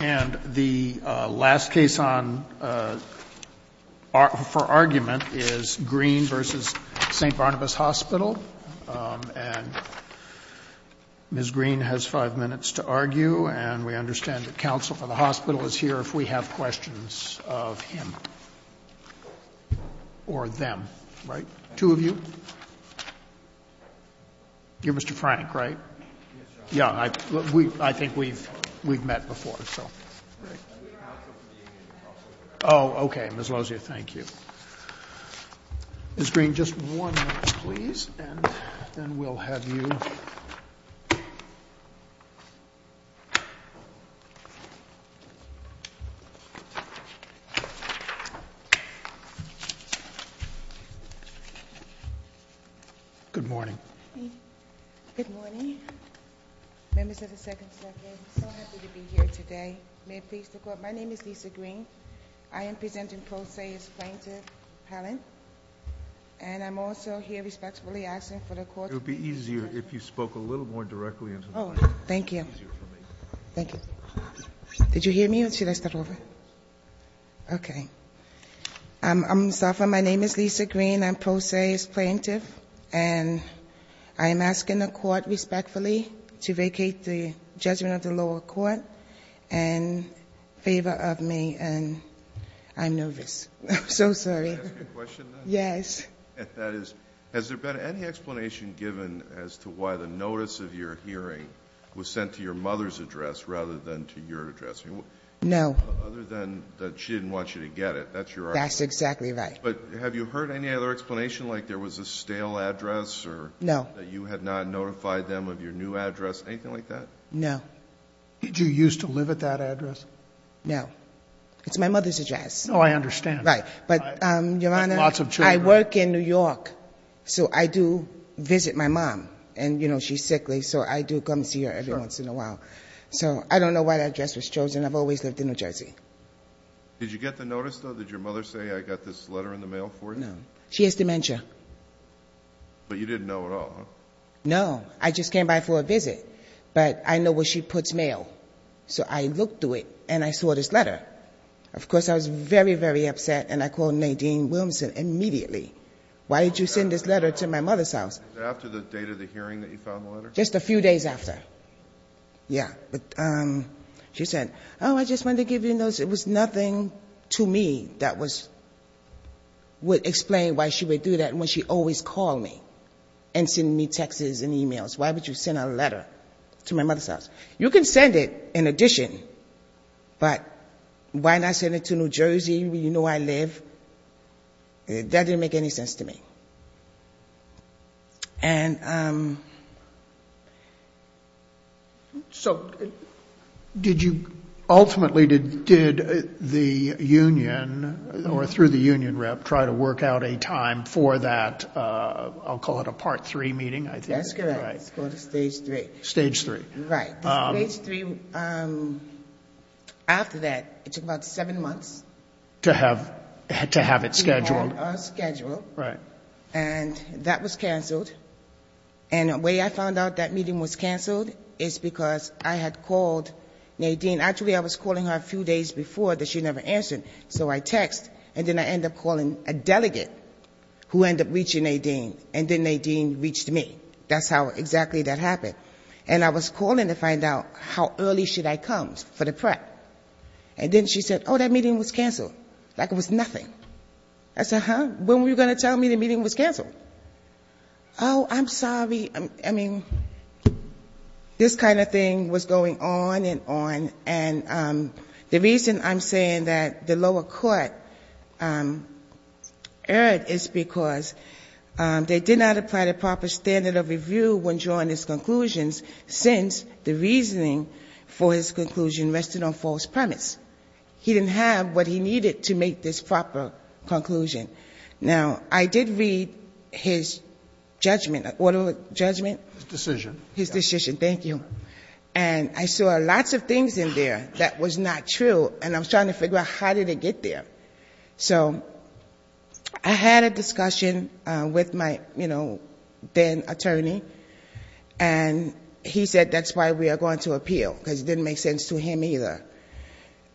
And the last case for argument is Greene v. St. Barnabas Hospital, and Ms. Greene has five minutes to argue, and we understand that counsel for the hospital is here if we have questions of him or them, right? Two of you? You're Mr. Frank, right? Yes, sir. Yeah, I think we've met before, so. Oh, okay, Ms. Lozier, thank you. Ms. Greene, just one minute, please, and then we'll have you. Good morning. Good morning. Members of the Second Circuit, I'm so happy to be here today. May it please the Court, my name is Lisa Greene. I am presenting pro se as plaintiff. And I'm also here respectfully asking for the Court to be. It would be easier if you spoke a little more directly into the mic. Oh, thank you. Thank you. Did you hear me, or should I start over? Okay. I'm going to start from my name is Lisa Greene. My name is Lisa Greene. I'm pro se as plaintiff, and I am asking the Court respectfully to vacate the judgment of the lower court in favor of me, and I'm nervous. I'm so sorry. Can I ask you a question, then? Yes. That is, has there been any explanation given as to why the notice of your hearing was sent to your mother's address rather than to your address? No. Other than that she didn't want you to get it. That's your argument. That's exactly right. But have you heard any other explanation, like there was a stale address or that you had not notified them of your new address, anything like that? No. Did you used to live at that address? No. It's my mother's address. No, I understand. Right. But, Your Honor, I work in New York, so I do visit my mom. And, you know, she's sickly, so I do come see her every once in a while. So I don't know why that address was chosen. I've always lived in New Jersey. Did you get the notice, though? Did your mother say, I got this letter in the mail for you? No. She has dementia. But you didn't know at all, huh? No. I just came by for a visit. But I know where she puts mail. So I looked through it, and I saw this letter. Of course, I was very, very upset, and I called Nadine Williamson immediately. Why did you send this letter to my mother's house? Was it after the date of the hearing that you found the letter? Just a few days after. Yeah. She said, oh, I just wanted to give you a notice. It was nothing to me that would explain why she would do that when she always called me and sent me texts and e-mails. Why would you send a letter to my mother's house? You can send it in addition, but why not send it to New Jersey where you know I live? That didn't make any sense to me. And so did you ultimately did the union or through the union rep try to work out a time for that, I'll call it a Part 3 meeting, I think. That's correct. It's called a Stage 3. Stage 3. Right. Stage 3, after that, it took about seven months. To have it scheduled. To have it scheduled. Right. And that was canceled. And the way I found out that meeting was canceled is because I had called Nadine. Actually, I was calling her a few days before that she never answered. So I text, and then I end up calling a delegate who ended up reaching Nadine. And then Nadine reached me. That's how exactly that happened. And I was calling to find out how early should I come for the prep. And then she said, oh, that meeting was canceled. Like it was nothing. I said, huh? When were you going to tell me the meeting was canceled? Oh, I'm sorry. I mean, this kind of thing was going on and on. And the reason I'm saying that the lower court erred is because they did not apply the proper standard of review when drawing these conclusions since the reasoning for his conclusion rested on false premise. He didn't have what he needed to make this proper conclusion. Now, I did read his judgment. What is it? Judgment? His decision. His decision. Thank you. And I saw lots of things in there that was not true. And I was trying to figure out how did it get there. So I had a discussion with my then attorney. And he said that's why we are going to appeal because it didn't make sense to him either.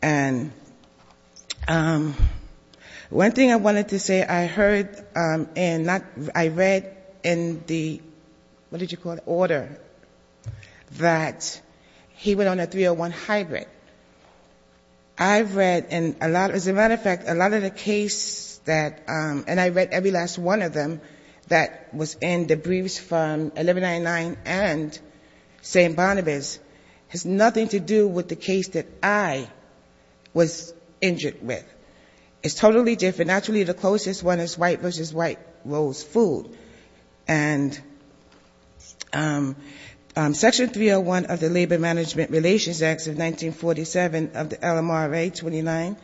And one thing I wanted to say, I heard and I read in the, what did you call it, order that he went on a 301 hybrid. I read in a lot, as a matter of fact, a lot of the case that, and I read every last one of them that was in the briefs from 1199 and St. Barnabas has nothing to do with the case that I was injured with. It's totally different. Actually, the closest one is white versus white rolls food. And Section 301 of the Labor Management Relations Act of 1947 of the LMRA 29,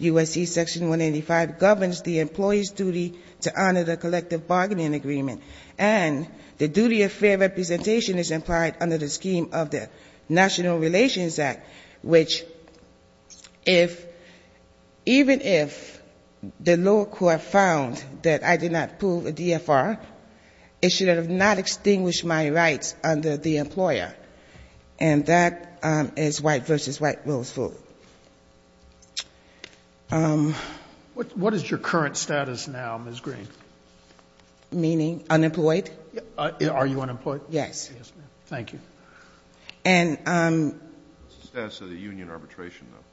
USC Section 185 governs the employee's duty to honor the collective bargaining agreement. And the duty of fair representation is implied under the scheme of the National Relations Act, which if, even if the lower court found that I did not prove a DFR, it should have not extinguished my rights under the employer. And that is white versus white rolls food. What is your current status now, Ms. Green? Meaning unemployed? Are you unemployed? Yes. Yes, ma'am. Thank you. What's the status of the union arbitration, though?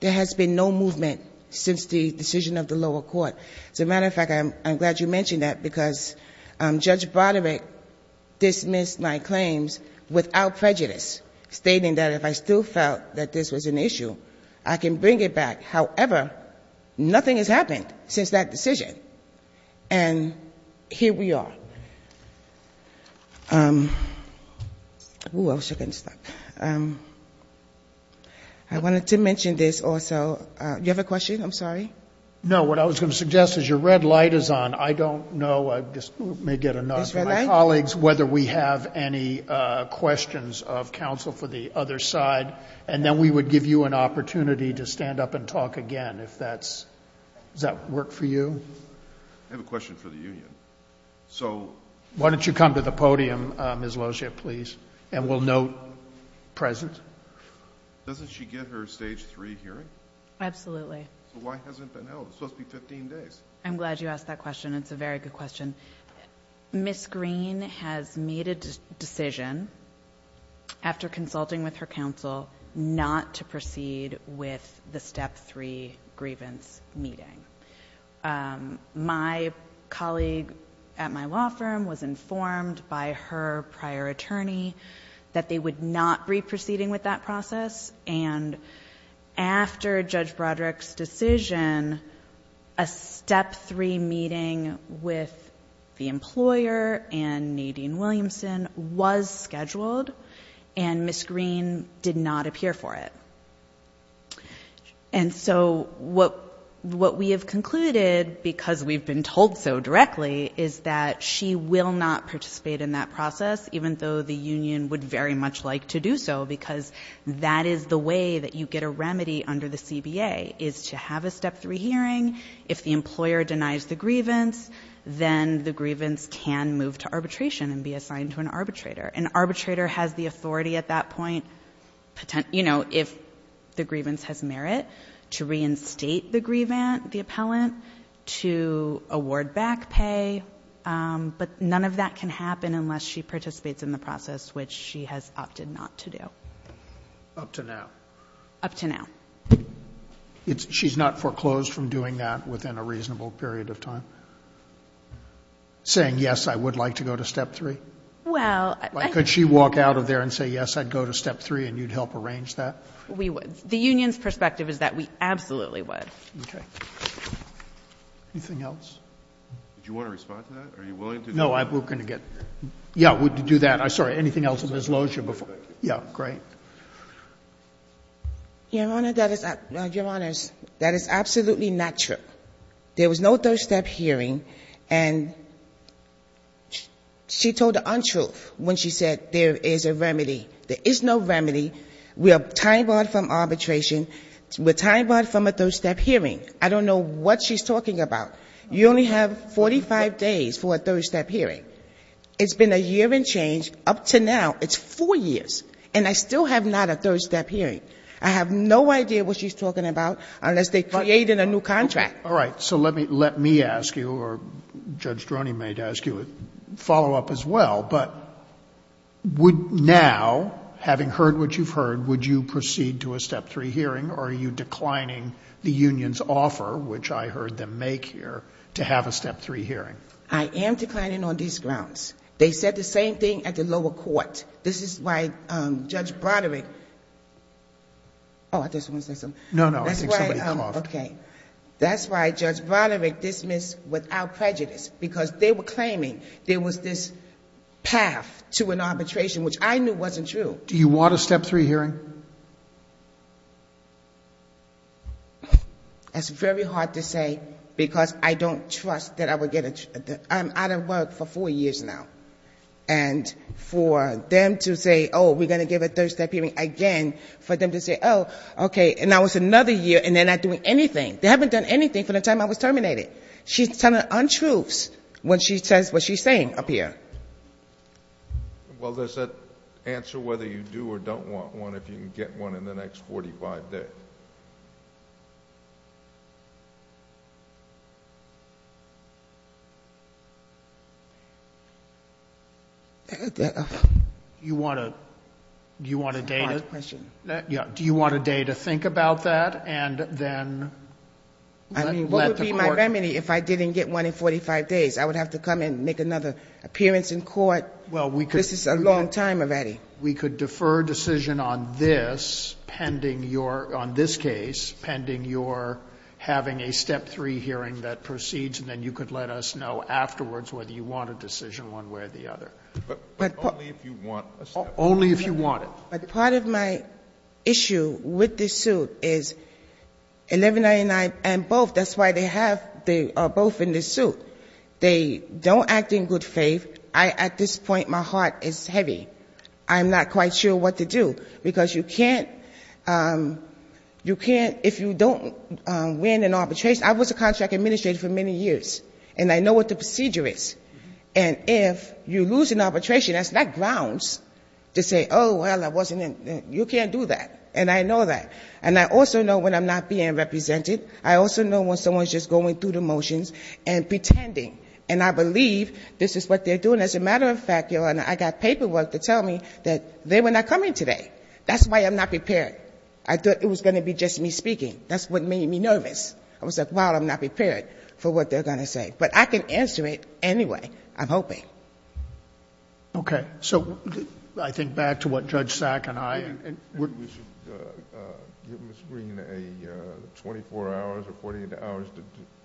There has been no movement since the decision of the lower court. As a matter of fact, I'm glad you mentioned that because Judge Broderick dismissed my claims without prejudice, stating that if I still felt that this was an issue, I can bring it back. However, nothing has happened since that decision. And here we are. Thank you. I wanted to mention this also. Do you have a question? I'm sorry. No, what I was going to suggest is your red light is on. I don't know, I just may get a nod from my colleagues, whether we have any questions of counsel for the other side, and then we would give you an opportunity to stand up and talk again if that's, does that work for you? I have a question for the union. Why don't you come to the podium, Ms. Lozier, please, and we'll note present. Doesn't she get her stage three hearing? Absolutely. So why hasn't it been held? It's supposed to be 15 days. I'm glad you asked that question. It's a very good question. Ms. Green has made a decision after consulting with her counsel not to proceed with the step three grievance meeting. My colleague at my law firm was informed by her prior attorney that they would not be proceeding with that process, and after Judge Broderick's decision, a step three meeting with the employer and Nadine Williamson was scheduled, and Ms. Green did not appear for it. And so what we have concluded, because we've been told so directly, is that she will not participate in that process, even though the union would very much like to do so, because that is the way that you get a remedy under the CBA, is to have a step three hearing. If the employer denies the grievance, then the grievance can move to arbitration and be assigned to an arbitrator. An arbitrator has the authority at that point, if the grievance has merit, to reinstate the grievant, the appellant, to award back pay, but none of that can happen unless she participates in the process, which she has opted not to do. Up to now? Up to now. She's not foreclosed from doing that within a reasonable period of time? Saying, yes, I would like to go to step three? Well, I think we would. Could she walk out of there and say, yes, I'd go to step three, and you'd help arrange that? We would. The union's perspective is that we absolutely would. Okay. Anything else? Did you want to respond to that? Are you willing to do that? No, I'm going to get to that. I'm sorry. Anything else? Ms. Lozier? Yeah, great. Your Honor, that is absolutely not true. There was no third-step hearing, and she told the untruth when she said there is a remedy. There is no remedy. We are tying barred from arbitration. We're tying barred from a third-step hearing. I don't know what she's talking about. You only have 45 days for a third-step hearing. It's been a year and change up to now. It's four years, and I still have not a third-step hearing. I have no idea what she's talking about unless they create a new contract. All right. So let me ask you, or Judge Droney may ask you a follow-up as well, but would now, having heard what you've heard, would you proceed to a step-three hearing, or are you declining the union's offer, which I heard them make here, to have a step-three hearing? I am declining on these grounds. They said the same thing at the lower court. This is why Judge Broderick... Oh, I just want to say something. No, no. I think somebody called. Okay. That's why Judge Broderick dismissed without prejudice, because they were claiming there was this path to an arbitration, which I knew wasn't true. Do you want a step-three hearing? That's very hard to say, because I don't trust that I would get a... I'm out of work for four years now. And for them to say, oh, we're going to give a third-step hearing again, for them to say, oh, okay, and now it's another year, and they're not doing anything. They haven't done anything from the time I was terminated. She's telling untruths when she says what she's saying up here. Well, does that answer whether you do or don't want one? I don't know if you can get one in the next 45 days. Do you want a day to think about that, and then let the court... I mean, what would be my remedy if I didn't get one in 45 days? I would have to come and make another appearance in court. This is a long time already. We could defer decision on this pending your, on this case, pending your having a step-three hearing that proceeds, and then you could let us know afterwards whether you want a decision one way or the other. But only if you want a step-three hearing. Only if you want it. But part of my issue with this suit is 1199 and both, that's why they have, they are both in this suit. They don't act in good faith. I, at this point, my heart is heavy. I'm not quite sure what to do. Because you can't, you can't, if you don't win an arbitration, I was a contract administrator for many years, and I know what the procedure is. And if you lose an arbitration, that's not grounds to say, oh, well, I wasn't in, you can't do that. And I know that. And I also know when I'm not being represented. I also know when someone's just going through the motions and pretending. And I believe this is what they're doing. And as a matter of fact, Your Honor, I got paperwork to tell me that they were not coming today. That's why I'm not prepared. I thought it was going to be just me speaking. That's what made me nervous. I was like, wow, I'm not prepared for what they're going to say. But I can answer it anyway, I'm hoping. Sotomayor. So I think back to what Judge Sack and I and we're. Can we give Ms. Green a 24 hours or 48 hours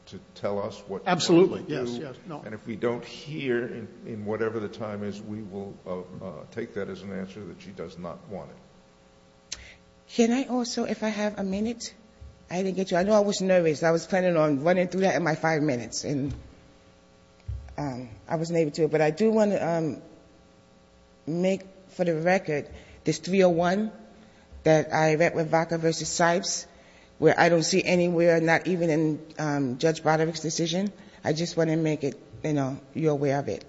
to tell us what to do? Yes, yes. And if we don't hear in whatever the time is, we will take that as an answer that she does not want it. Can I also, if I have a minute? I didn't get you. I know I was nervous. I was planning on running through that in my five minutes. And I wasn't able to. But I do want to make for the record this 301 that I read with Vaca v. Sipes, where I don't see anywhere, not even in Judge Broderick's decision. I just want to make it, you know, you're aware of it.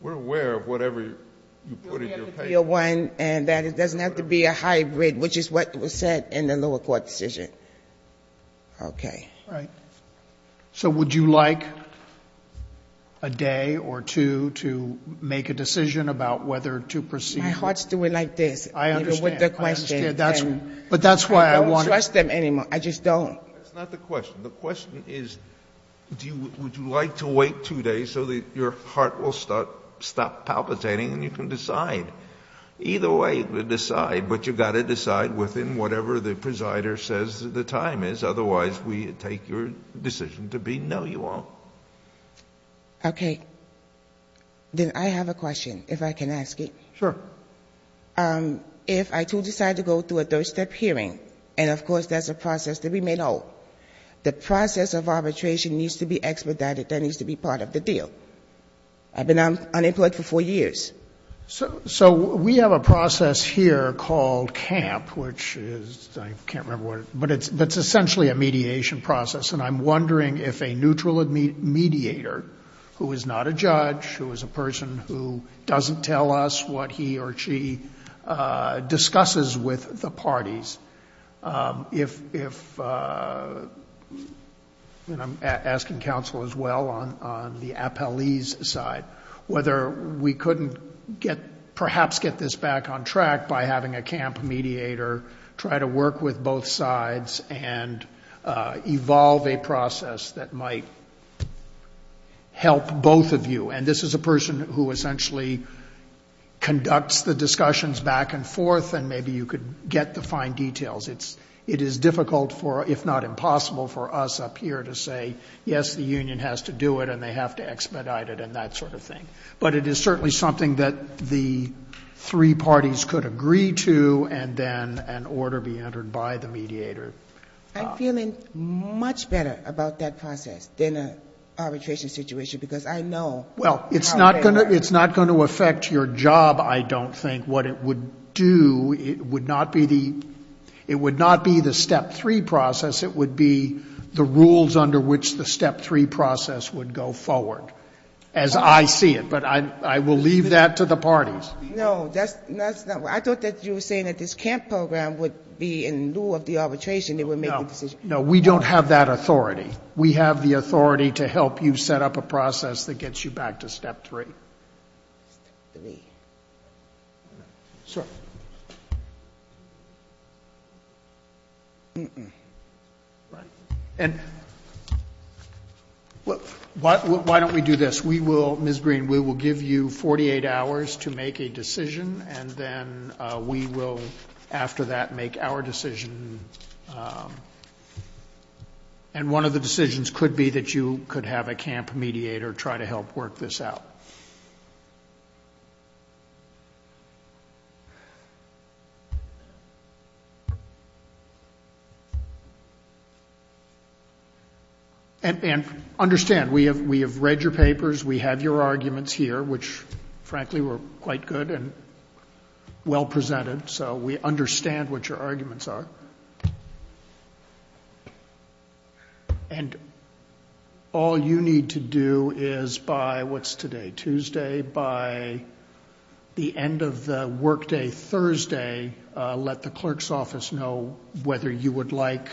We're aware of whatever you put in your paper. And that it doesn't have to be a hybrid, which is what was said in the lower court decision. Okay. All right. So would you like a day or two to make a decision about whether to proceed? My heart's doing like this. I understand. But that's why I want to. I don't trust them anymore. I just don't. That's not the question. The question is, would you like to wait two days so that your heart will stop palpitating and you can decide? Either way, decide. But you've got to decide within whatever the presider says the time is. Otherwise, we take your decision to be no, you won't. Okay. Then I have a question, if I can ask it. Sure. If I do decide to go through a third-step hearing, and, of course, that's a process that we may know, the process of arbitration needs to be expedited. That needs to be part of the deal. I've been unemployed for four years. So we have a process here called CAMP, which is, I can't remember what it is, but it's essentially a mediation process. And I'm wondering if a neutral mediator, who is not a judge, who is a person who doesn't tell us what he or she discusses with the parties, if, and I'm asking counsel as well on the appellee's side, whether we couldn't perhaps get this back on track by having a CAMP mediator try to work with both sides and evolve a process that might help both of you. And this is a person who essentially conducts the discussions back and forth, and maybe you could get the fine details. It is difficult, if not impossible, for us up here to say, yes, the union has to do it, and they have to expedite it and that sort of thing. But it is certainly something that the three parties could agree to and then an order be entered by the mediator. I'm feeling much better about that process than an arbitration situation, because I know how they work. Well, it's not going to affect your job, I don't think. What it would do, it would not be the step three process, it would be the rules under which the step three process would go forward, as I see it. But I will leave that to the parties. No. I thought that you were saying that this CAMP program would be in lieu of the arbitration, they would make the decision. No. We don't have that authority. We have the authority to help you set up a process that gets you back to step three. Step three. Sure. And why don't we do this? We will, Ms. Green, we will give you 48 hours to make a decision, and then we will, after that, make our decision. And one of the decisions could be that you could have a CAMP mediator try to help work this out. And understand, we have read your papers, we have your arguments here, which, frankly, were quite good and well presented, so we understand what your arguments are. And all you need to do is, by what's today, Tuesday, by the end of the workday, Thursday, let the clerk's office know whether you would like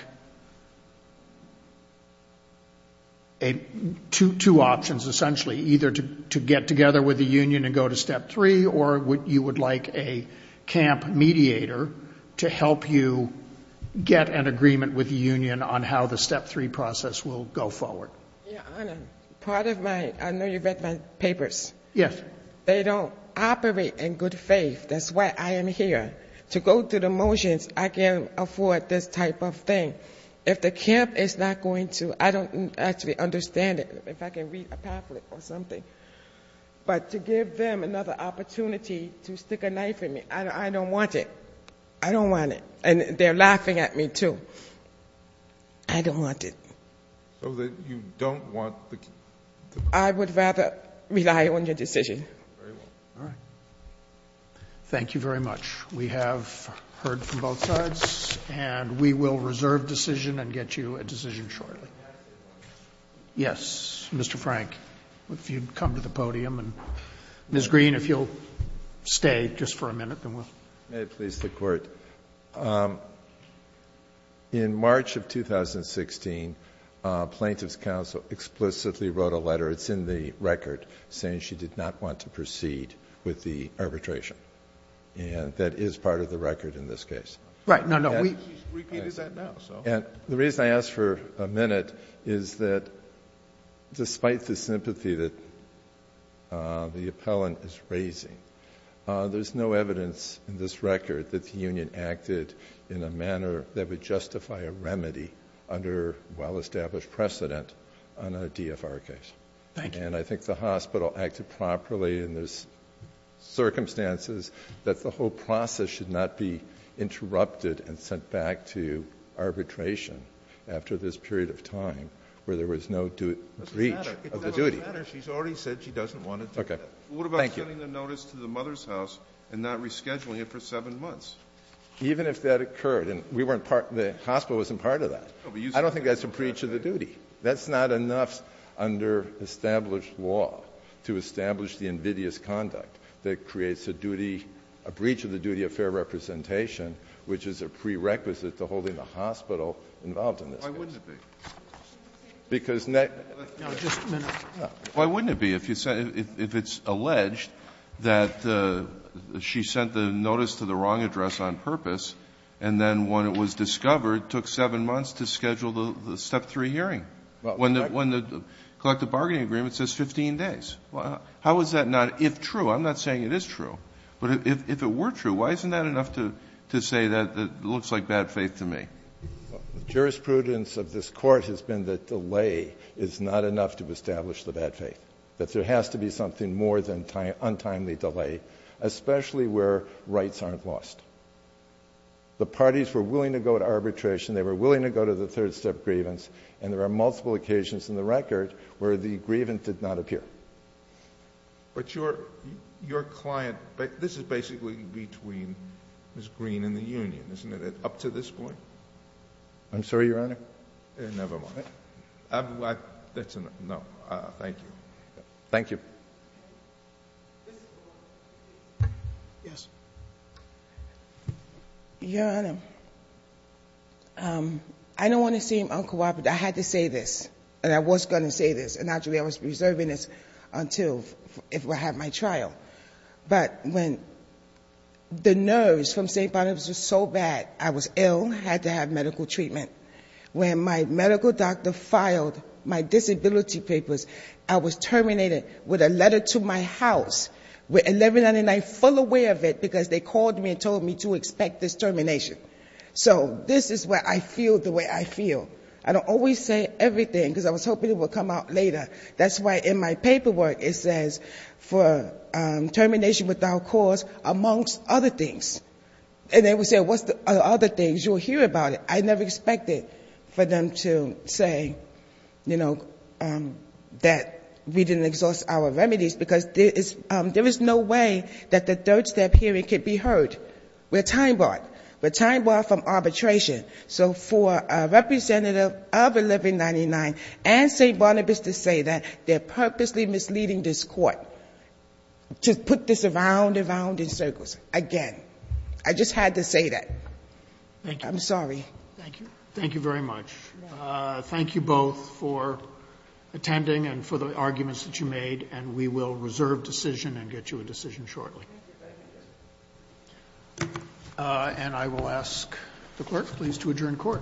two options, essentially, either to get together with the union and go to step three, or you would like a CAMP mediator to help you get an agreement with the union on how the step three process will go forward. Your Honor, part of my, I know you've read my papers. Yes. They don't operate in good faith. That's why I am here. To go through the motions, I can't afford this type of thing. If the CAMP is not going to, I don't actually understand it, if I can read a pamphlet or something. But to give them another opportunity to stick a knife in me, I don't want it. I don't want it. And they're laughing at me, too. I don't want it. So you don't want the? I would rather rely on your decision. Very well. All right. Thank you very much. We have heard from both sides, and we will reserve decision and get you a decision shortly. May I say one thing? Yes. Mr. Frank, if you'd come to the podium. And, Ms. Green, if you'll stay just for a minute, then we'll. May it please the Court. In March of 2016, Plaintiff's counsel explicitly wrote a letter, it's in the record, saying she did not want to proceed with the arbitration. And that is part of the record in this case. Right. No, no. She's repeated that now, so. And the reason I asked for a minute is that despite the sympathy that the appellant is raising, there's no evidence in this record that the union acted in a manner that would justify a remedy under well-established precedent on a DFR case. Thank you. And I think the hospital acted properly, and there's circumstances that the whole process should not be interrupted and sent back to arbitration after this period of time where there was no breach of the duty. It doesn't matter. It doesn't matter. Nobody said she doesn't want to do that. Okay. Thank you. What about sending the notice to the mother's house and not rescheduling it for 7 months? Even if that occurred, and we weren't part of that, the hospital wasn't part of that, I don't think that's a breach of the duty. That's not enough under established law to establish the invidious conduct that creates a duty, a breach of the duty of fair representation, which is a prerequisite to holding the hospital involved in this case. Why wouldn't it be? Because next. No, just a minute. Why wouldn't it be if you said, if it's alleged that she sent the notice to the wrong address on purpose, and then when it was discovered, took 7 months to schedule the Step 3 hearing, when the collective bargaining agreement says 15 days? How is that not if true? I'm not saying it is true. But if it were true, why isn't that enough to say that it looks like bad faith to me? The jurisprudence of this Court has been that delay is not enough to establish the bad faith. That there has to be something more than untimely delay, especially where rights aren't lost. The parties were willing to go to arbitration, they were willing to go to the third step grievance, and there are multiple occasions in the record where the grievance did not appear. But your client, this is basically between Ms. Green and the union, isn't it, up to this point? I'm sorry, Your Honor? Never mind. No, thank you. Thank you. Your Honor, I don't want to seem uncooperative. I had to say this, and I was going to say this, and actually I was preserving this until I had my trial. But when the nerves from St. Barnabas were so bad, I was ill, had to have medical treatment. When my medical doctor filed my disability papers, I was terminated with a letter to my house with 1199 full aware of it because they called me and told me to expect this termination. So this is what I feel the way I feel. I don't always say everything because I was hoping it would come out later. That's why in my paperwork it says for termination without cause amongst other things. And they would say, what's the other things? You'll hear about it. I never expected for them to say, you know, that we didn't exhaust our remedies because there is no way that the third step hearing could be heard. We're time-barred. We're time-barred from arbitration. So for a representative of 1199 and St. Barnabas to say that they're purposely misleading this court to put this around and around in circles, again, I just had to say that. I'm sorry. Thank you. Thank you very much. Thank you both for attending and for the arguments that you made. And we will reserve decision and get you a decision shortly. Thank you. And I will ask the clerk, please, to adjourn court. Court is adjourned. Thank you.